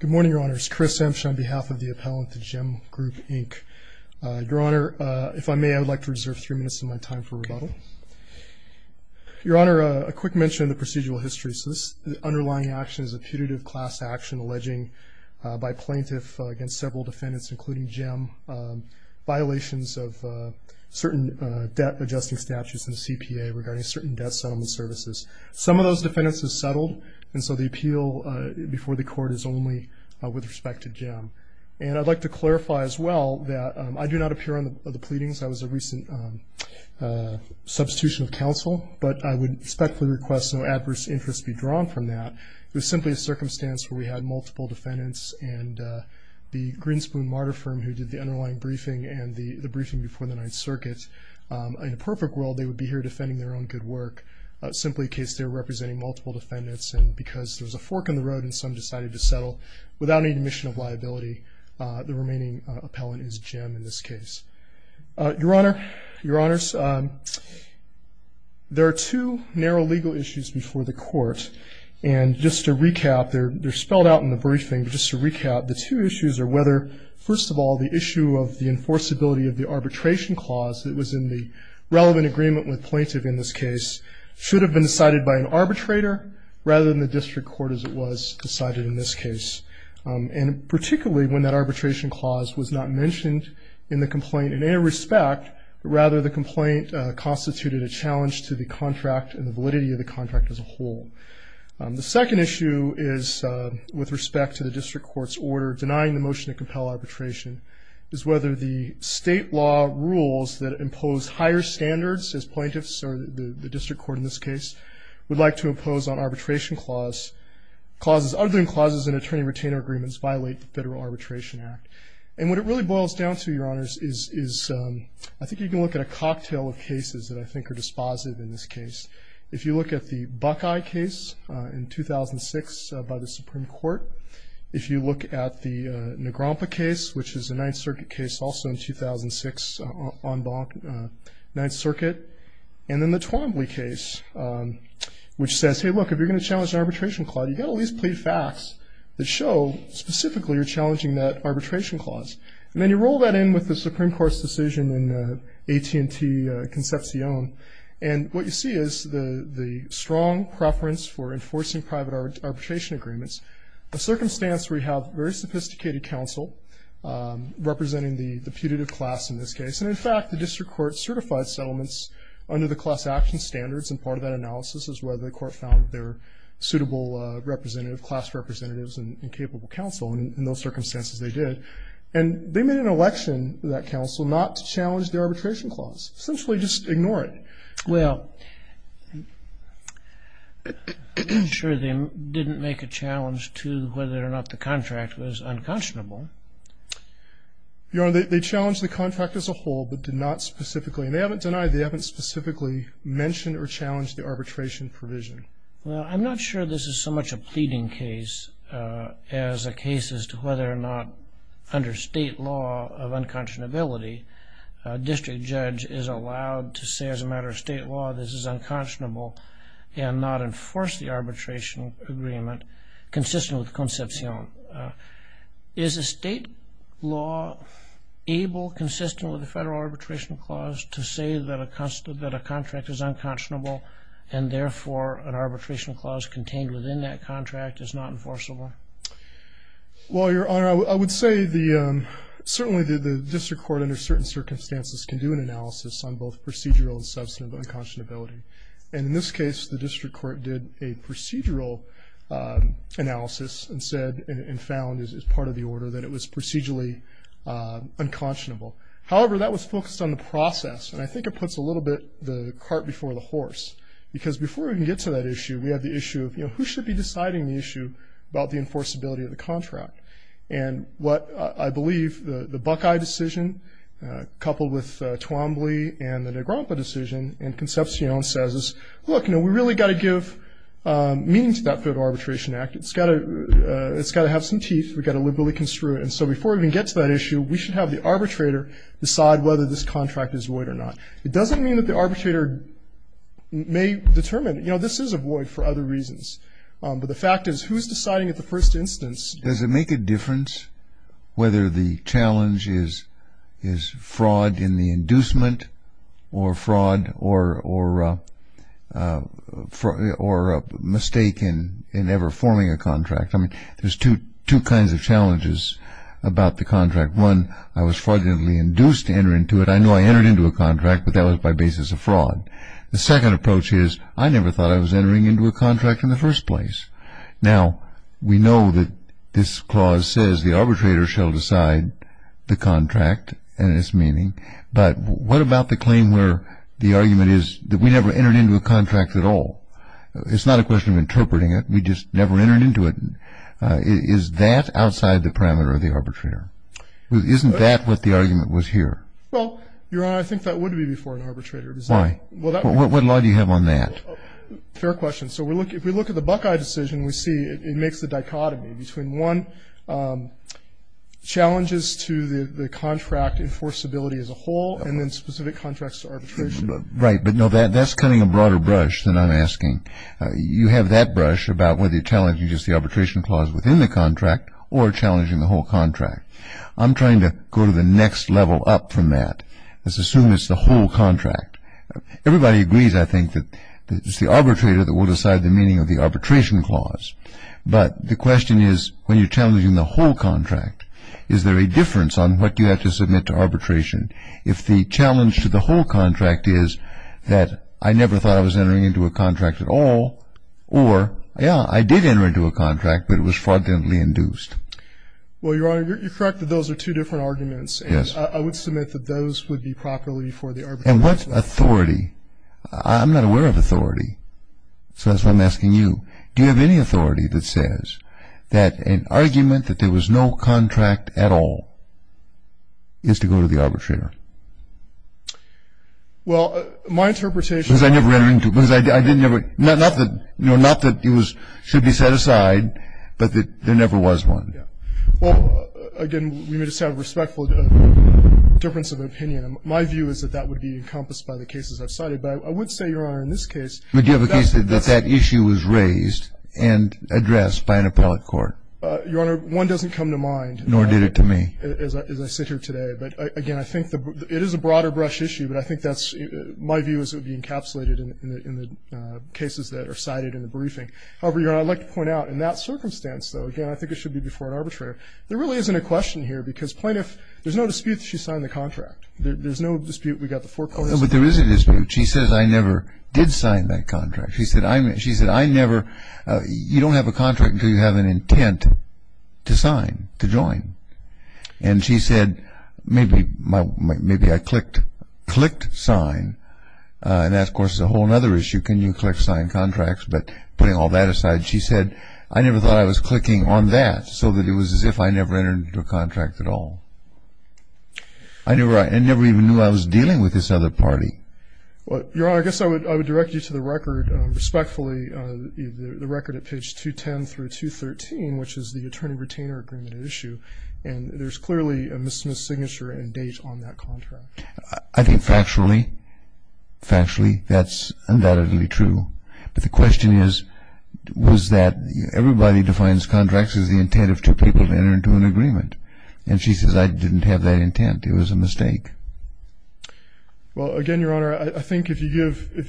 Good morning, Your Honor. It's Chris Emsche on behalf of the appellant to JEM Group Inc. Your Honor, if I may, I would like to reserve three minutes of my time for rebuttal. Your Honor, a quick mention of the procedural history. So this underlying action is a putative class action alleging by plaintiff against several defendants, including JEM, violations of certain debt-adjusting statutes in the CPA regarding certain debt settlement services. Some of those defendants have settled, and so the appeal before the court is only with respect to JEM. And I'd like to clarify as well that I do not appear on the pleadings. That was a recent substitution of counsel, but I would respectfully request no adverse interest be drawn from that. It was simply a circumstance where we had multiple defendants, and the Greenspoon Martyr Firm who did the underlying briefing and the briefing before the Ninth Circuit, in a perfect world they would be here defending their own good work, simply in case they were representing multiple defendants. And because there was a fork in the road and some decided to settle without any admission of liability, the remaining appellant is JEM in this case. Your Honor, Your Honors, there are two narrow legal issues before the court. And just to recap, they're spelled out in the briefing, but just to recap, the two issues are whether, first of all, the issue of the enforceability of the arbitration clause that was in the relevant agreement with plaintiff in this case should have been decided by an arbitrator, rather than the district court as it was decided in this case. And particularly when that arbitration clause was not mentioned in the complaint in any respect, but rather the complaint constituted a challenge to the contract and the validity of the contract as a whole. The second issue is, with respect to the district court's order denying the motion to compel arbitration, is whether the state law rules that impose higher standards as plaintiffs, or the district court in this case, would like to impose on arbitration clauses, clauses other than clauses in attorney-retainer agreements violate the Federal Arbitration Act. And what it really boils down to, Your Honors, is I think you can look at a cocktail of cases that I think are dispositive in this case. If you look at the Buckeye case in 2006 by the Supreme Court, if you look at the Negrompa case, which is a Ninth Circuit case, also in 2006 on Ninth Circuit, and then the Twombly case, which says, Hey, look, if you're going to challenge an arbitration clause, you've got to at least plead facts that show specifically you're challenging that arbitration clause. And then you roll that in with the Supreme Court's decision in AT&T Concepcion, and what you see is the strong preference for enforcing private arbitration agreements, a circumstance where you have very sophisticated counsel representing the putative class in this case. And, in fact, the district court certified settlements under the class action standards, and part of that analysis is whether the court found their suitable class representatives and capable counsel in those circumstances they did. And they made an election to that counsel not to challenge the arbitration clause, essentially just ignore it. Well, I'm sure they didn't make a challenge to whether or not the contract was unconscionable. Your Honor, they challenged the contract as a whole but did not specifically, and they haven't denied they haven't specifically mentioned or challenged the arbitration provision. Well, I'm not sure this is so much a pleading case as a case as to whether or not under state law of unconscionability a district judge is allowed to say as a matter of state law this is unconscionable and not enforce the arbitration agreement consistent with Concepcion. Is a state law able, consistent with the federal arbitration clause, to say that a contract is unconscionable and therefore an arbitration clause contained within that contract is not enforceable? Well, Your Honor, I would say certainly the district court under certain circumstances can do an analysis on both procedural and substantive unconscionability. And in this case, the district court did a procedural analysis and said and found as part of the order that it was procedurally unconscionable. However, that was focused on the process, and I think it puts a little bit the cart before the horse because before we can get to that issue, we have the issue of who should be deciding the issue about the enforceability of the contract. And what I believe the Buckeye decision coupled with Twombly and the Negrompa decision and Concepcion says is, look, we really got to give meaning to that federal arbitration act. It's got to have some teeth. We've got to liberally construe it. And so before we can get to that issue, we should have the arbitrator decide whether this contract is void or not. It doesn't mean that the arbitrator may determine, you know, this is a void for other reasons. But the fact is, who's deciding at the first instance? Does it make a difference whether the challenge is fraud in the inducement or fraud or a mistake in ever forming a contract? I mean, there's two kinds of challenges about the contract. One, I was fraudulently induced to enter into it. I know I entered into a contract, but that was by basis of fraud. The second approach is I never thought I was entering into a contract in the first place. Now, we know that this clause says the arbitrator shall decide the contract and its meaning. But what about the claim where the argument is that we never entered into a contract at all? It's not a question of interpreting it. We just never entered into it. Is that outside the parameter of the arbitrator? Isn't that what the argument was here? Well, Your Honor, I think that would be before an arbitrator. Why? What law do you have on that? Fair question. So if we look at the Buckeye decision, we see it makes the dichotomy between, one, challenges to the contract enforceability as a whole and then specific contracts to arbitration. Right. But, no, that's cutting a broader brush than I'm asking. You have that brush about whether you're challenging just the arbitration clause within the contract or challenging the whole contract. I'm trying to go to the next level up from that. Let's assume it's the whole contract. Everybody agrees, I think, that it's the arbitrator that will decide the meaning of the arbitration clause. But the question is, when you're challenging the whole contract, is there a difference on what you have to submit to arbitration? If the challenge to the whole contract is that I never thought I was entering into a contract at all Or, yeah, I did enter into a contract, but it was fraudulently induced. Well, Your Honor, you're correct that those are two different arguments. Yes. And I would submit that those would be properly for the arbitration. And what authority? I'm not aware of authority. So that's why I'm asking you. Do you have any authority that says that an argument that there was no contract at all is to go to the arbitrator? Well, my interpretation is that I never entered into it. Not that it should be set aside, but that there never was one. Yeah. Well, again, we may just have a respectful difference of opinion. My view is that that would be encompassed by the cases I've cited. But I would say, Your Honor, in this case But do you have a case that that issue was raised and addressed by an appellate court? Your Honor, one doesn't come to mind. Nor did it to me. As I sit here today. But, again, I think it is a broader brush issue. But I think that's my view is it would be encapsulated in the cases that are cited in the briefing. However, Your Honor, I'd like to point out, in that circumstance, though, again, I think it should be before an arbitrator, there really isn't a question here. Because plaintiff, there's no dispute that she signed the contract. There's no dispute we got the foreclosure. No, but there is a dispute. She says, I never did sign that contract. She said, I never, you don't have a contract until you have an intent to sign, to join. And she said, maybe I clicked sign. And that, of course, is a whole other issue. Can you click sign contracts? But putting all that aside, she said, I never thought I was clicking on that so that it was as if I never entered into a contract at all. I never even knew I was dealing with this other party. Your Honor, I guess I would direct you to the record, respectfully, the record at page 210 through 213, which is the attorney-retainer agreement issue. And there's clearly a misdemeanor signature and date on that contract. I think factually, factually, that's undoubtedly true. But the question is, was that everybody defines contracts as the intent of two people to enter into an agreement. And she says, I didn't have that intent. It was a mistake. Well, again, Your Honor, I think if you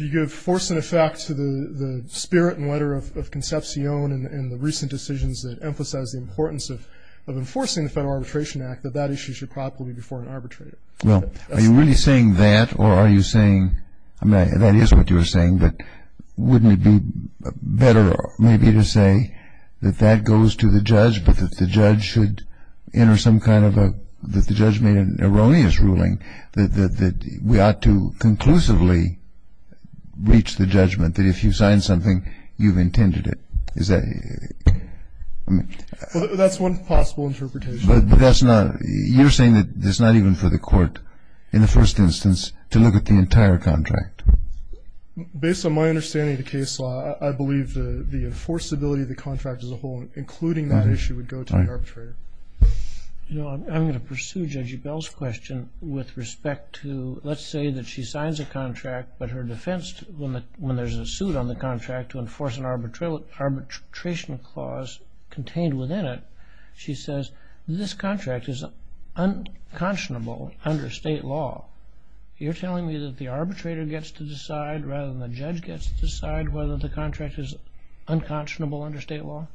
give force and effect to the spirit and letter of Concepcion and the recent decisions that emphasize the importance of enforcing the Federal Arbitration Act, that that issue should probably be before an arbitrator. Well, are you really saying that? Or are you saying, I mean, that is what you were saying, but wouldn't it be better maybe to say that that goes to the judge but that the judge should enter some kind of a, that the judge made an erroneous ruling that we ought to conclusively reach the judgment that if you sign something, you've intended it. Is that, I mean. Well, that's one possible interpretation. But that's not, you're saying that it's not even for the court, in the first instance, to look at the entire contract. Based on my understanding of the case law, I believe the enforceability of the contract as a whole, including that issue, would go to the arbitrator. You know, I'm going to pursue Judge Bell's question with respect to, let's say that she signs a contract, but her defense, when there's a suit on the contract to enforce an arbitration clause contained within it, she says, this contract is unconscionable under state law. You're telling me that the arbitrator gets to decide rather than the judge gets to decide whether the contract is unconscionable under state law?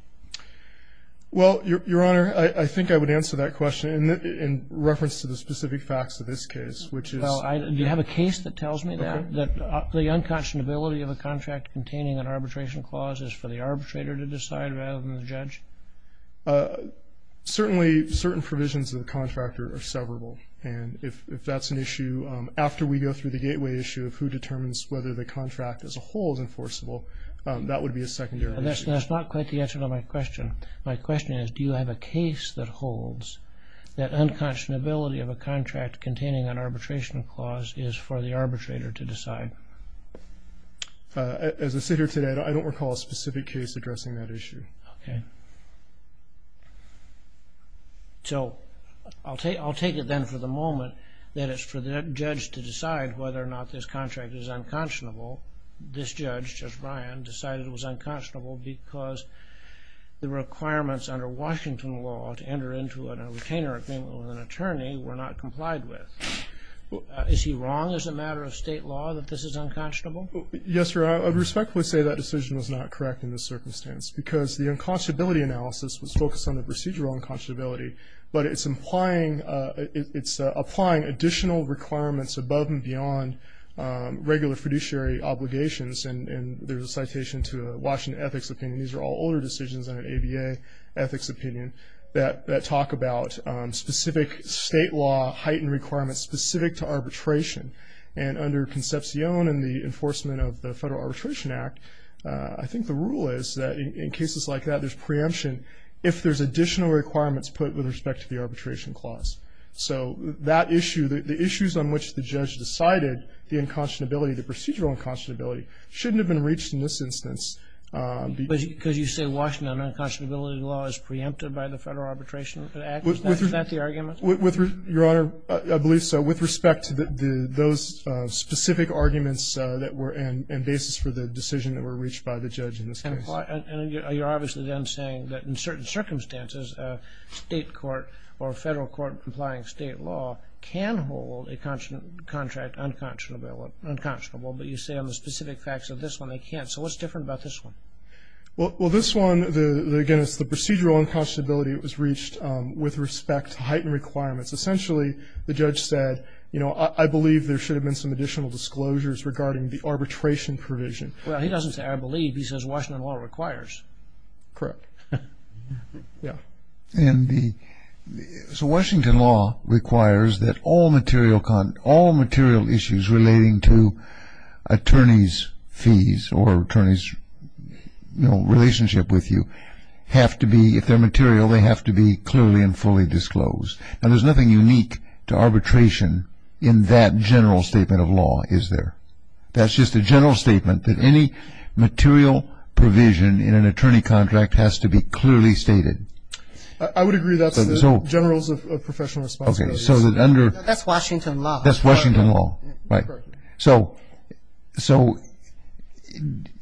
Well, Your Honor, I think I would answer that question in reference to the specific facts of this case, Do you have a case that tells me that? That the unconscionability of a contract containing an arbitration clause is for the arbitrator to decide rather than the judge? Certainly, certain provisions of the contractor are severable. And if that's an issue, after we go through the gateway issue of who determines whether the contract as a whole is enforceable, that would be a secondary issue. That's not quite the answer to my question. My question is, do you have a case that holds that unconscionability of a contract containing an arbitration clause is for the arbitrator to decide? As a sitter today, I don't recall a specific case addressing that issue. Okay. So I'll take it then for the moment that it's for the judge to decide whether or not this contract is unconscionable. This judge, Judge Ryan, decided it was unconscionable because the requirements under Washington law to enter into a retainer agreement with an attorney were not complied with. Is he wrong as a matter of state law that this is unconscionable? Yes, sir. I would respectfully say that decision was not correct in this circumstance because the unconscionability analysis was focused on the procedural unconscionability, but it's applying additional requirements above and beyond regular fiduciary obligations. And there's a citation to the Washington Ethics Opinion. These are all older decisions under ABA Ethics Opinion that talk about specific state law heightened requirements specific to arbitration. And under Concepcion and the enforcement of the Federal Arbitration Act, I think the rule is that in cases like that there's preemption if there's additional requirements put with respect to the arbitration clause. So that issue, the issues on which the judge decided the unconscionability, the procedural unconscionability, shouldn't have been reached in this instance. Because you say Washington unconscionability law is preempted by the Federal Arbitration Act? Is that the argument? Your Honor, I believe so. With respect to those specific arguments that were in basis for the decision that were reached by the judge in this case. And you're obviously then saying that in certain circumstances a state court or a Federal court complying state law can hold a contract unconscionable but you say on the specific facts of this one they can't. So what's different about this one? Well, this one, again, it's the procedural unconscionability that was reached with respect to heightened requirements. Essentially, the judge said, you know, I believe there should have been some additional disclosures regarding the arbitration provision. Well, he doesn't say I believe. He says Washington law requires. Correct. Yeah. So Washington law requires that all material issues relating to attorney's fees or attorney's relationship with you have to be, if they're material, they have to be clearly and fully disclosed. And there's nothing unique to arbitration in that general statement of law, is there? That's just a general statement that any material provision in an attorney contract has to be clearly stated. I would agree that's the generals of professional responsibility. Okay. That's Washington law. That's Washington law. Right. Correct. So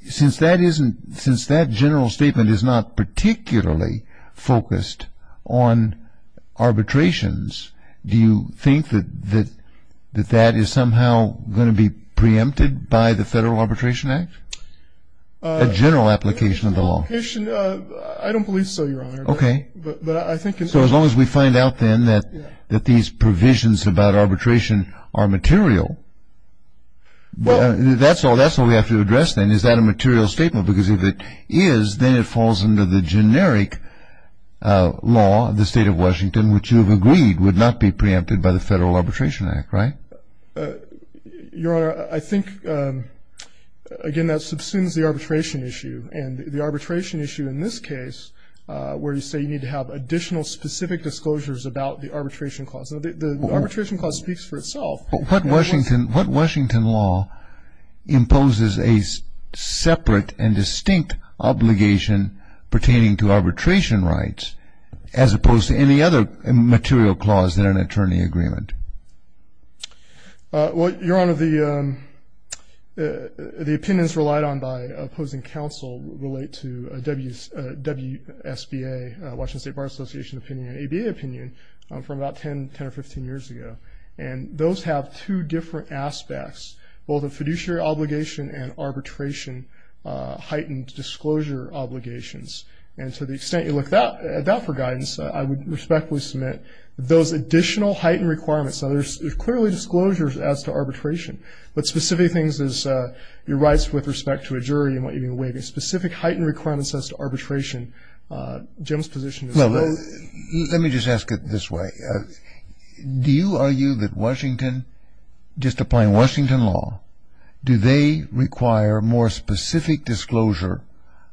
since that general statement is not particularly focused on arbitrations, do you think that that is somehow going to be preempted by the Federal Arbitration Act, a general application of the law? I don't believe so, Your Honor. Okay. So as long as we find out then that these provisions about arbitration are material, that's all we have to address then. Is that a material statement? Because if it is, then it falls under the generic law of the State of Washington, which you have agreed would not be preempted by the Federal Arbitration Act, right? Your Honor, I think, again, that subsumes the arbitration issue. And the arbitration issue in this case, where you say you need to have additional specific disclosures about the arbitration clause. The arbitration clause speaks for itself. But what Washington law imposes a separate and distinct obligation pertaining to arbitration rights, as opposed to any other material clause in an attorney agreement? Well, Your Honor, the opinions relied on by opposing counsel relate to WSBA, Washington State Bar Association opinion, and ABA opinion from about 10 or 15 years ago. And those have two different aspects, both a fiduciary obligation and arbitration heightened disclosure obligations. And to the extent you look at that for guidance, I would respectfully submit those additional heightened requirements. Now, there's clearly disclosures as to arbitration, but specific things as your rights with respect to a jury and what you mean by waiving. Specific heightened requirements as to arbitration, Jim's position is low. Let me just ask it this way. Do you argue that Washington, just applying Washington law, do they require more specific disclosure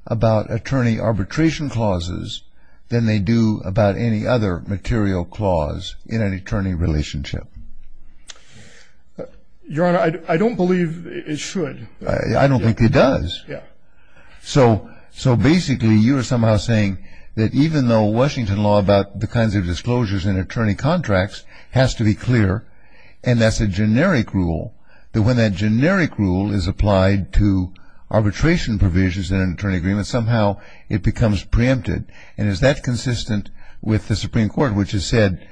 about attorney arbitration clauses than they do about any other material clause in an attorney relationship? Your Honor, I don't believe it should. I don't think it does. Yeah. So basically, you are somehow saying that even though Washington law about the kinds of disclosures in attorney contracts has to be clear, and that's a generic rule, that when that generic rule is applied to arbitration provisions in an attorney agreement, somehow it becomes preempted. And is that consistent with the Supreme Court, which has said,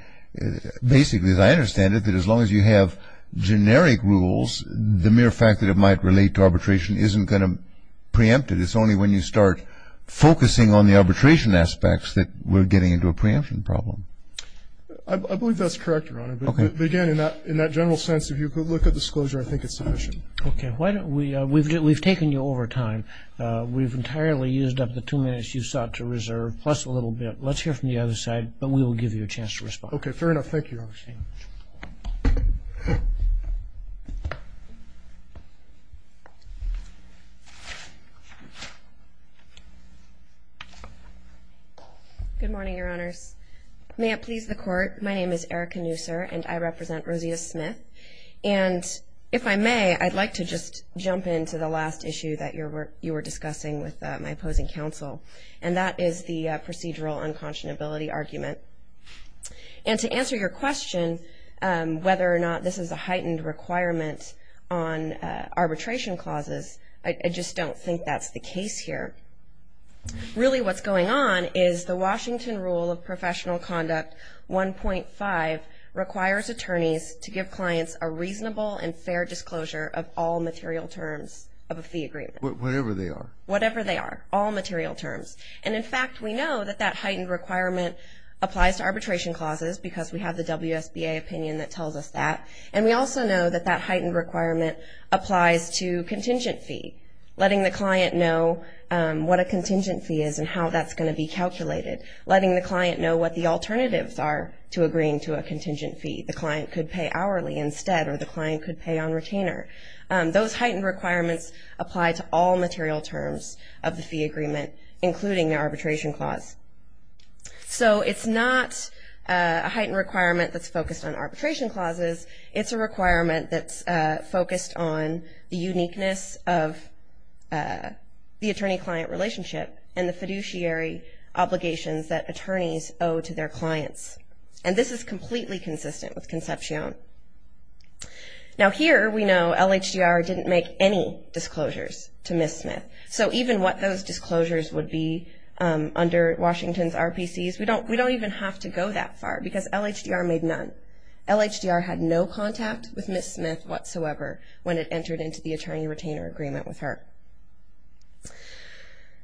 basically, as I understand it, that as long as you have generic rules, the mere fact that it might relate to arbitration isn't going to preempt it. It's only when you start focusing on the arbitration aspects that we're getting into a preemption problem. I believe that's correct, Your Honor. But again, in that general sense, if you could look at disclosure, I think it's sufficient. Okay. We've taken you over time. We've entirely used up the two minutes you sought to reserve, plus a little bit. Let's hear from the other side, but we will give you a chance to respond. Okay, fair enough. Thank you, Your Honor. Good morning, Your Honors. May it please the Court, my name is Erica Nooser, and I represent Rosita Smith. And if I may, I'd like to just jump into the last issue that you were discussing with my opposing counsel, and that is the procedural unconscionability argument. And to answer your question, whether or not this is a heightened requirement on arbitration clauses, I just don't think that's the case here. Really what's going on is the Washington Rule of Professional Conduct 1.5 requires attorneys to give clients a reasonable and fair disclosure of all material terms of a fee agreement. Whatever they are. Whatever they are, all material terms. And, in fact, we know that that heightened requirement applies to arbitration clauses because we have the WSBA opinion that tells us that. And we also know that that heightened requirement applies to contingent fee, letting the client know what a contingent fee is and how that's going to be calculated, letting the client know what the alternatives are to agreeing to a contingent fee. The client could pay hourly instead, or the client could pay on retainer. Those heightened requirements apply to all material terms of the fee agreement, including the arbitration clause. So it's not a heightened requirement that's focused on arbitration clauses. It's a requirement that's focused on the uniqueness of the attorney-client relationship and the fiduciary obligations that attorneys owe to their clients. And this is completely consistent with Concepcion. Now, here we know LHDR didn't make any disclosures to Ms. Smith. So even what those disclosures would be under Washington's RPCs, we don't even have to go that far because LHDR made none. LHDR had no contact with Ms. Smith whatsoever when it entered into the attorney-retainer agreement with her.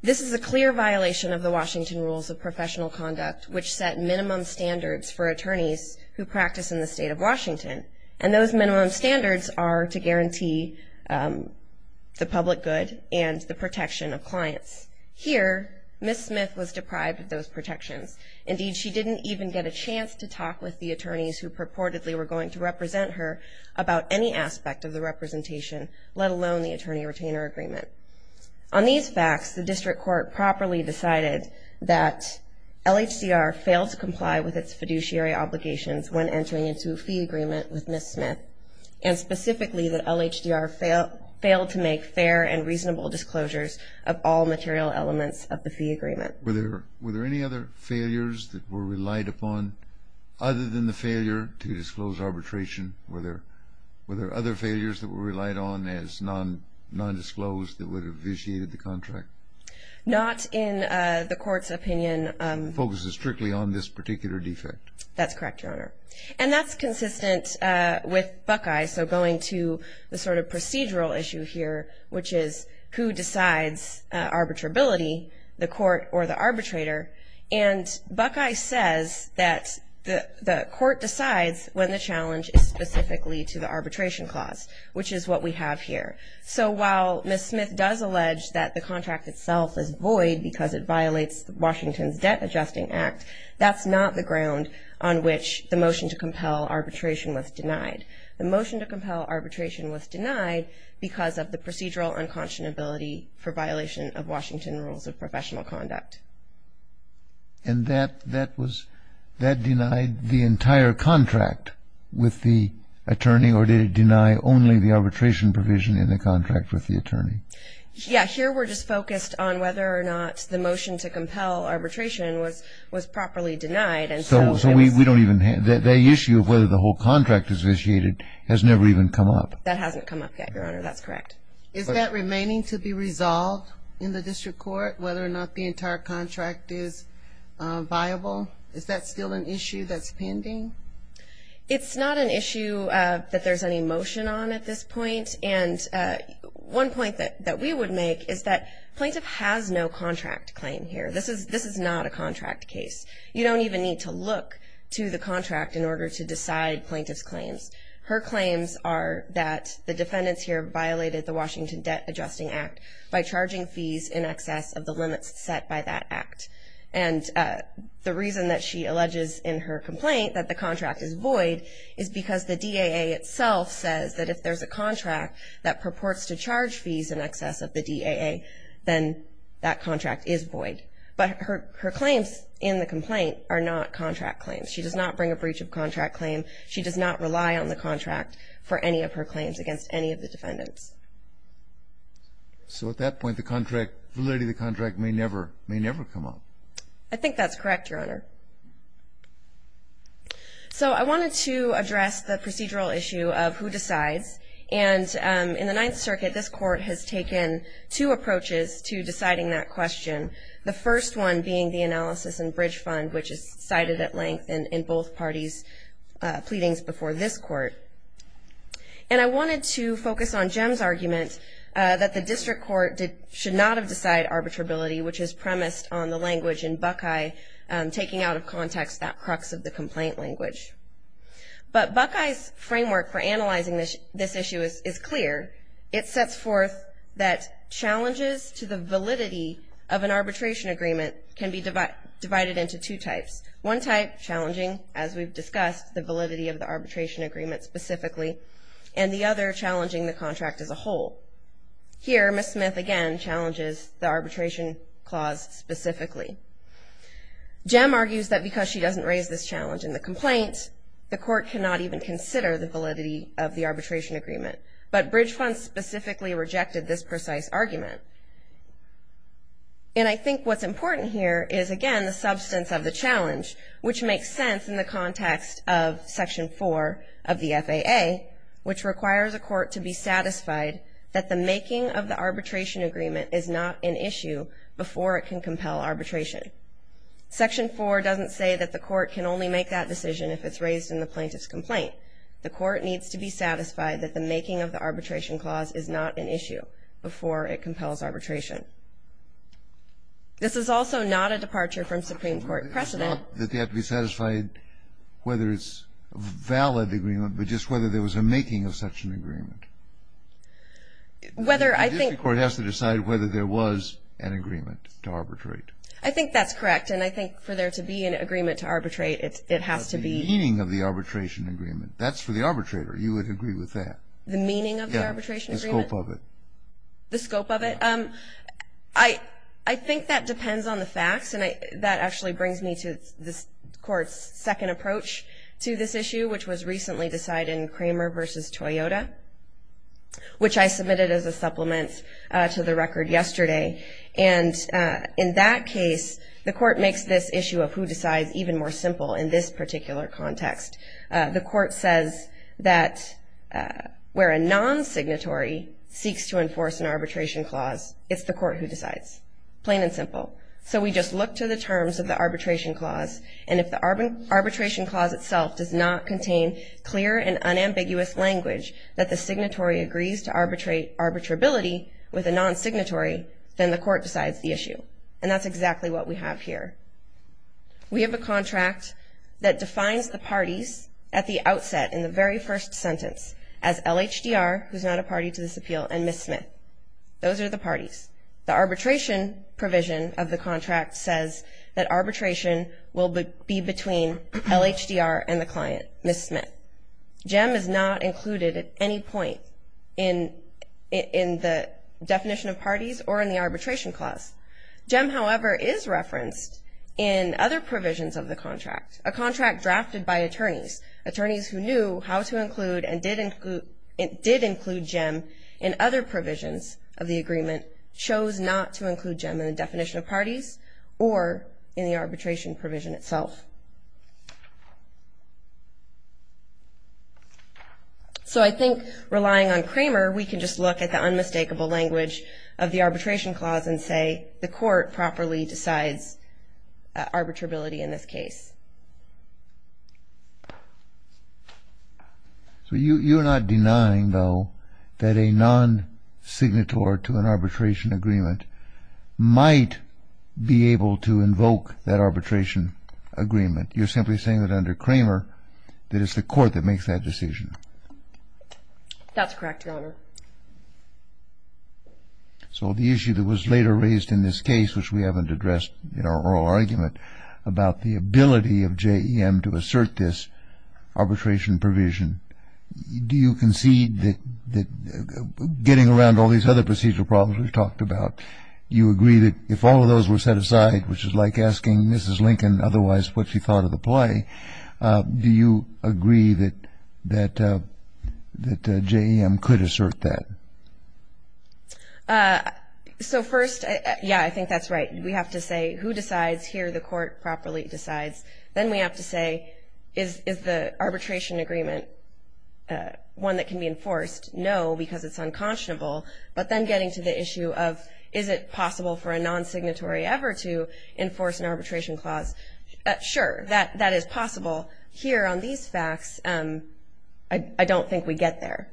This is a clear violation of the Washington Rules of Professional Conduct, which set minimum standards for attorneys who practice in the state of Washington. And those minimum standards are to guarantee the public good and the protection of clients. Here, Ms. Smith was deprived of those protections. Indeed, she didn't even get a chance to talk with the attorneys who purportedly were going to represent her about any aspect of the representation, let alone the attorney-retainer agreement. On these facts, the district court properly decided that LHDR failed to comply with its fiduciary obligations when entering into a fee agreement with Ms. Smith, and specifically that LHDR failed to make fair and reasonable disclosures of all material elements of the fee agreement. Were there any other failures that were relied upon other than the failure to disclose arbitration? Were there other failures that were relied on as nondisclosed that would have vitiated the contract? Not in the court's opinion. It focuses strictly on this particular defect. That's correct, Your Honor. And that's consistent with Buckeye, so going to the sort of procedural issue here, which is who decides arbitrability, the court or the arbitrator. And Buckeye says that the court decides when the challenge is specifically to the arbitration clause, which is what we have here. So while Ms. Smith does allege that the contract itself is void because it violates Washington's Debt Adjusting Act, that's not the ground on which the motion to compel arbitration was denied. The motion to compel arbitration was denied because of the procedural unconscionability for violation of Washington rules of professional conduct. And that denied the entire contract with the attorney, or did it deny only the arbitration provision in the contract with the attorney? Yeah. Here we're just focused on whether or not the motion to compel arbitration was properly denied. So we don't even have the issue of whether the whole contract has vitiated has never even come up. That hasn't come up yet, Your Honor. That's correct. Is that remaining to be resolved in the district court, whether or not the entire contract is viable? Is that still an issue that's pending? It's not an issue that there's any motion on at this point. And one point that we would make is that plaintiff has no contract claim here. This is not a contract case. You don't even need to look to the contract in order to decide plaintiff's claims. Her claims are that the defendants here violated the Washington Debt Adjusting Act by charging fees in excess of the limits set by that act. And the reason that she alleges in her complaint that the contract is void is because the DAA itself says that if there's a contract that purports to charge fees in excess of the DAA, then that contract is void. But her claims in the complaint are not contract claims. She does not bring a breach of contract claim. She does not rely on the contract for any of her claims against any of the defendants. So at that point, the validity of the contract may never come up. I think that's correct, Your Honor. So I wanted to address the procedural issue of who decides. And in the Ninth Circuit, this Court has taken two approaches to deciding that question, the first one being the analysis in Bridge Fund, which is cited at length in both parties' pleadings before this Court. And I wanted to focus on Jem's argument that the district court should not have decided arbitrability, which is premised on the language in Buckeye taking out of context that crux of the complaint language. But Buckeye's framework for analyzing this issue is clear. It sets forth that challenges to the validity of an arbitration agreement can be divided into two types, one type challenging, as we've discussed, the validity of the arbitration agreement specifically, and the other challenging the contract as a whole. Here, Ms. Smith again challenges the arbitration clause specifically. Jem argues that because she doesn't raise this challenge in the complaint, the Court cannot even consider the validity of the arbitration agreement. But Bridge Fund specifically rejected this precise argument. And I think what's important here is, again, the substance of the challenge, which makes sense in the context of Section 4 of the FAA, which requires a court to be satisfied that the making of the arbitration agreement is not an issue before it can compel arbitration. Section 4 doesn't say that the court can only make that decision if it's raised in the plaintiff's complaint. The court needs to be satisfied that the making of the arbitration clause is not an issue before it compels arbitration. This is also not a departure from Supreme Court precedent. It's not that they have to be satisfied whether it's a valid agreement, but just whether there was a making of such an agreement. Whether I think the court has to decide whether there was an agreement to arbitrate. I think that's correct. And I think for there to be an agreement to arbitrate, it has to be. The meaning of the arbitration agreement. That's for the arbitrator. You would agree with that. The meaning of the arbitration agreement? The scope of it. The scope of it? I think that depends on the facts. And that actually brings me to this Court's second approach to this issue, which was recently decided in Cramer v. Toyota, which I submitted as a supplement to the record yesterday. And in that case, the court makes this issue of who decides even more simple in this particular context. The court says that where a non-signatory seeks to enforce an arbitration clause, it's the court who decides. Plain and simple. So we just look to the terms of the arbitration clause, and if the arbitration clause itself does not contain clear and unambiguous language that the signatory agrees to arbitrability with a non-signatory, then the court decides the issue. And that's exactly what we have here. We have a contract that defines the parties at the outset in the very first sentence as LHDR, who's not a party to this appeal, and Ms. Smith. Those are the parties. The arbitration provision of the contract says that arbitration will be between LHDR and the client, Ms. Smith. GEM is not included at any point in the definition of parties or in the arbitration clause. GEM, however, is referenced in other provisions of the contract, a contract drafted by attorneys, attorneys who knew how to include and did include GEM in other provisions of the agreement, or in the arbitration provision itself. So I think relying on Kramer, we can just look at the unmistakable language of the arbitration clause and say the court properly decides arbitrability in this case. So you're not denying, though, that a non-signatory to an arbitration agreement might be able to invoke that arbitration agreement. You're simply saying that under Kramer that it's the court that makes that decision. That's correct, Your Honor. So the issue that was later raised in this case, which we haven't addressed in our oral argument, about the ability of GEM to assert this arbitration provision, do you concede that getting around all these other procedural problems we've talked about, do you agree that if all of those were set aside, which is like asking Mrs. Lincoln otherwise what she thought of the play, do you agree that GEM could assert that? So first, yeah, I think that's right. We have to say who decides here, the court properly decides. Then we have to say is the arbitration agreement one that can be enforced? No, because it's unconscionable. But then getting to the issue of is it possible for a non-signatory ever to enforce an arbitration clause, sure, that is possible. Here on these facts, I don't think we get there.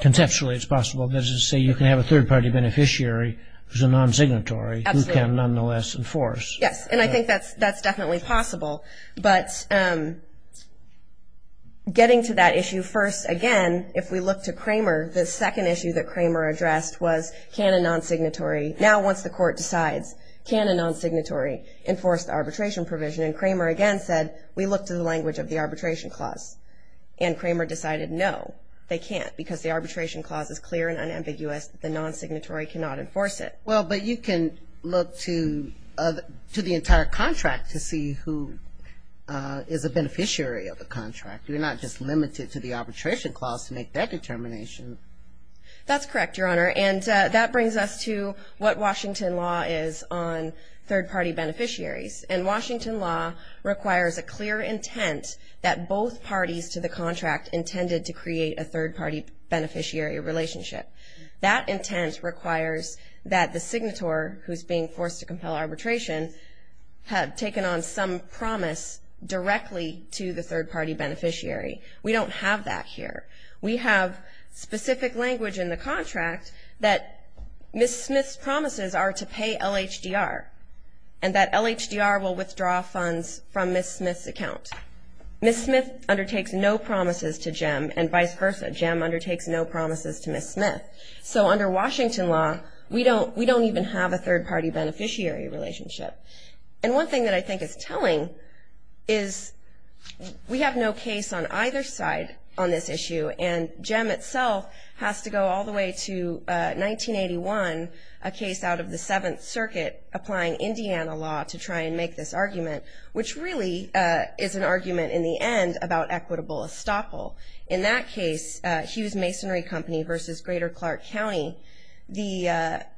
Conceptually, it's possible. Let's just say you can have a third-party beneficiary who's a non-signatory who can nonetheless enforce. Yes, and I think that's definitely possible. But getting to that issue, first, again, if we look to Cramer, the second issue that Cramer addressed was can a non-signatory, now once the court decides can a non-signatory enforce the arbitration provision, and Cramer again said we look to the language of the arbitration clause. And Cramer decided no, they can't, because the arbitration clause is clear and unambiguous that the non-signatory cannot enforce it. Well, but you can look to the entire contract to see who is a beneficiary of the contract. You're not just limited to the arbitration clause to make that determination. That's correct, Your Honor, and that brings us to what Washington law is on third-party beneficiaries. And Washington law requires a clear intent that both parties to the contract intended to create a third-party beneficiary relationship. That intent requires that the signatory who's being forced to compel arbitration have taken on some promise directly to the third-party beneficiary. We don't have that here. We have specific language in the contract that Ms. Smith's promises are to pay LHDR and that LHDR will withdraw funds from Ms. Smith's account. Ms. Smith undertakes no promises to Jim and vice versa. Jim undertakes no promises to Ms. Smith. So under Washington law, we don't even have a third-party beneficiary relationship. And one thing that I think is telling is we have no case on either side on this issue, and Jim itself has to go all the way to 1981, a case out of the Seventh Circuit applying Indiana law to try and make this argument, which really is an argument in the end about equitable estoppel. In that case, Hughes Masonry Company versus Greater Clark County, the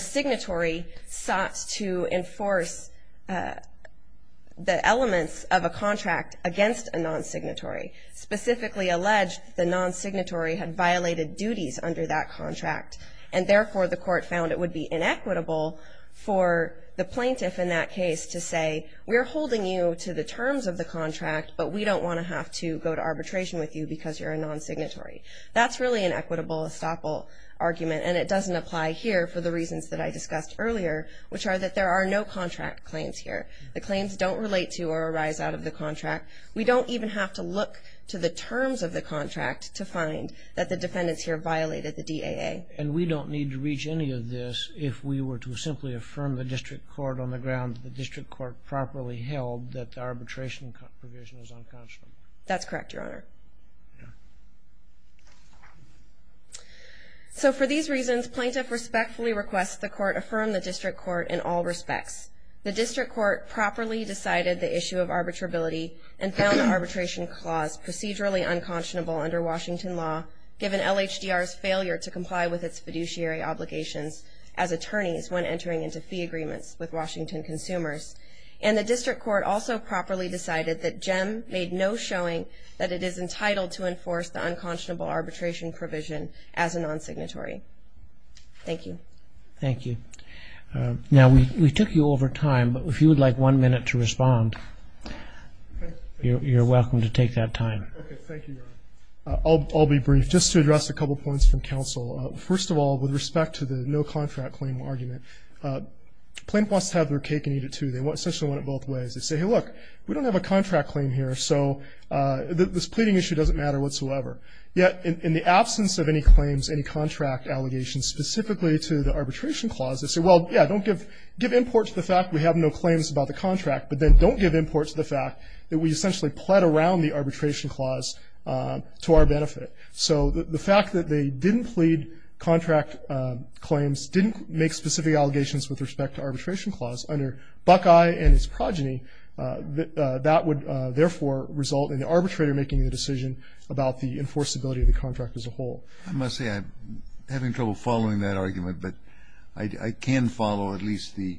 signatory sought to enforce the elements of a contract against a non-signatory, specifically alleged the non-signatory had violated duties under that contract, and therefore the court found it would be inequitable for the plaintiff in that case to say, we're holding you to the terms of the contract, but we don't want to have to go to arbitration with you because you're a non-signatory. That's really an equitable estoppel argument, and it doesn't apply here for the reasons that I discussed earlier, which are that there are no contract claims here. The claims don't relate to or arise out of the contract. We don't even have to look to the terms of the contract to find that the defendants here violated the DAA. And we don't need to reach any of this if we were to simply affirm the district court on the ground that the district court properly held that the arbitration provision is unconscionable. That's correct, Your Honor. Yeah. So for these reasons, plaintiff respectfully requests the court affirm the district court in all respects. The district court properly decided the issue of arbitrability and found the arbitration clause procedurally unconscionable under Washington law, given LHDR's failure to comply with its fiduciary obligations as attorneys when entering into fee agreements with Washington consumers. And the district court also properly decided that JEM made no showing that it is entitled to enforce the unconscionable arbitration provision as a non-signatory. Thank you. Thank you. Now, we took you over time, but if you would like one minute to respond, you're welcome to take that time. Okay, thank you, Your Honor. I'll be brief, just to address a couple points from counsel. First of all, with respect to the no contract claim argument, plaintiff wants to have their cake and eat it, too. They essentially want it both ways. They say, hey, look, we don't have a contract claim here, so this pleading issue doesn't matter whatsoever. Yet in the absence of any claims, any contract allegations, specifically to the arbitration clause, they say, well, yeah, don't give import to the fact we have no claims about the contract, but then don't give import to the fact that we essentially pled around the arbitration clause to our benefit. So the fact that they didn't plead contract claims, didn't make specific allegations with respect to arbitration clause under Buckeye and his progeny, that would therefore result in the arbitrator making the decision about the enforceability of the contract as a whole. I must say I'm having trouble following that argument, but I can follow at least the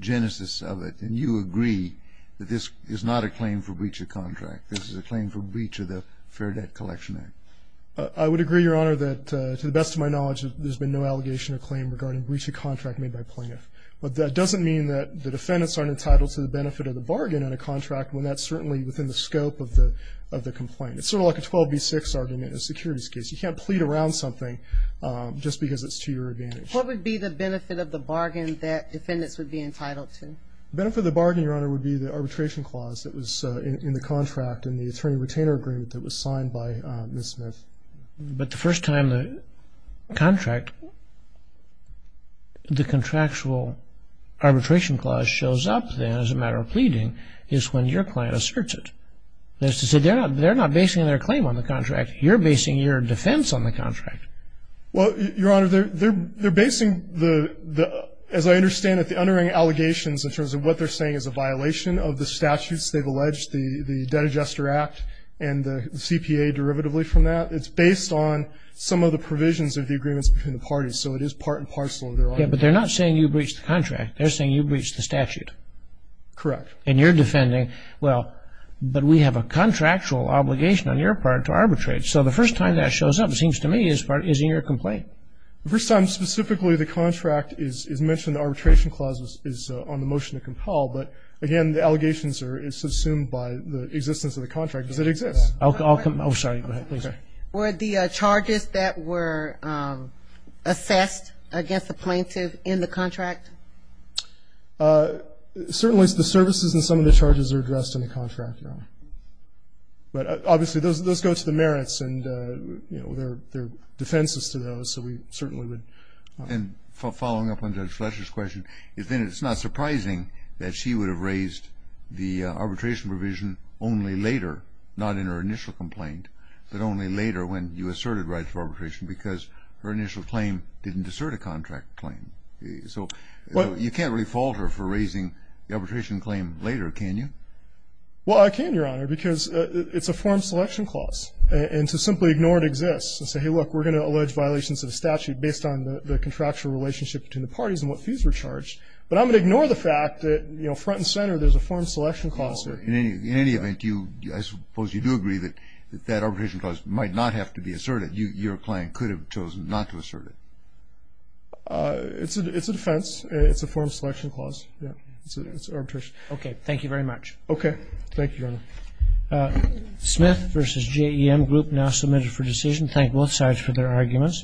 genesis of it. And you agree that this is not a claim for breach of contract. This is a claim for breach of the Fair Debt Collection Act. I would agree, Your Honor, that to the best of my knowledge, there's been no allegation or claim regarding breach of contract made by plaintiff. But that doesn't mean that the defendants aren't entitled to the benefit of the bargain in a contract when that's certainly within the scope of the complaint. It's sort of like a 12B6 argument in a securities case. You can't plead around something just because it's to your advantage. What would be the benefit of the bargain that defendants would be entitled to? The benefit of the bargain, Your Honor, would be the arbitration clause that was in the contract and the attorney-retainer agreement that was signed by Ms. Smith. But the first time the contract, the contractual arbitration clause shows up then as a matter of pleading is when your client asserts it. That is to say they're not basing their claim on the contract. You're basing your defense on the contract. Well, Your Honor, they're basing the, as I understand it, the underwriting allegations in terms of what they're saying is a violation of the statutes. They've alleged the Debt Adjuster Act and the CPA derivatively from that. It's based on some of the provisions of the agreements between the parties. So it is part and parcel of their argument. Yeah, but they're not saying you breached the contract. They're saying you breached the statute. Correct. And you're defending, well, but we have a contractual obligation on your part to arbitrate. So the first time that shows up, it seems to me, is in your complaint. The first time specifically the contract is mentioned, the arbitration clause is on the motion to compel. But, again, the allegations are subsumed by the existence of the contract because it exists. I'll come back. Oh, sorry. Go ahead, please. Were the charges that were assessed against the plaintiff in the contract? Certainly the services and some of the charges are addressed in the contract, Your Honor. But, obviously, those go to the merits, and there are defenses to those. So we certainly would. And following up on Judge Fletcher's question, it's not surprising that she would have raised the arbitration provision only later, not in her initial complaint, but only later when you asserted rights for arbitration because her initial claim didn't assert a contract claim. So you can't really fault her for raising the arbitration claim later, can you? Well, I can, Your Honor, because it's a form selection clause. And to simply ignore it exists and say, hey, look, we're going to allege violations of the statute based on the contractual relationship between the parties and what fees were charged. But I'm going to ignore the fact that, you know, front and center, there's a form selection clause there. In any event, I suppose you do agree that that arbitration clause might not have to be asserted. Your client could have chosen not to assert it. It's a defense. It's a form selection clause. It's arbitration. Okay. Thank you very much. Okay. Thank you, Your Honor. Smith v. JEM Group now submitted for decision. Thank both sides for their arguments.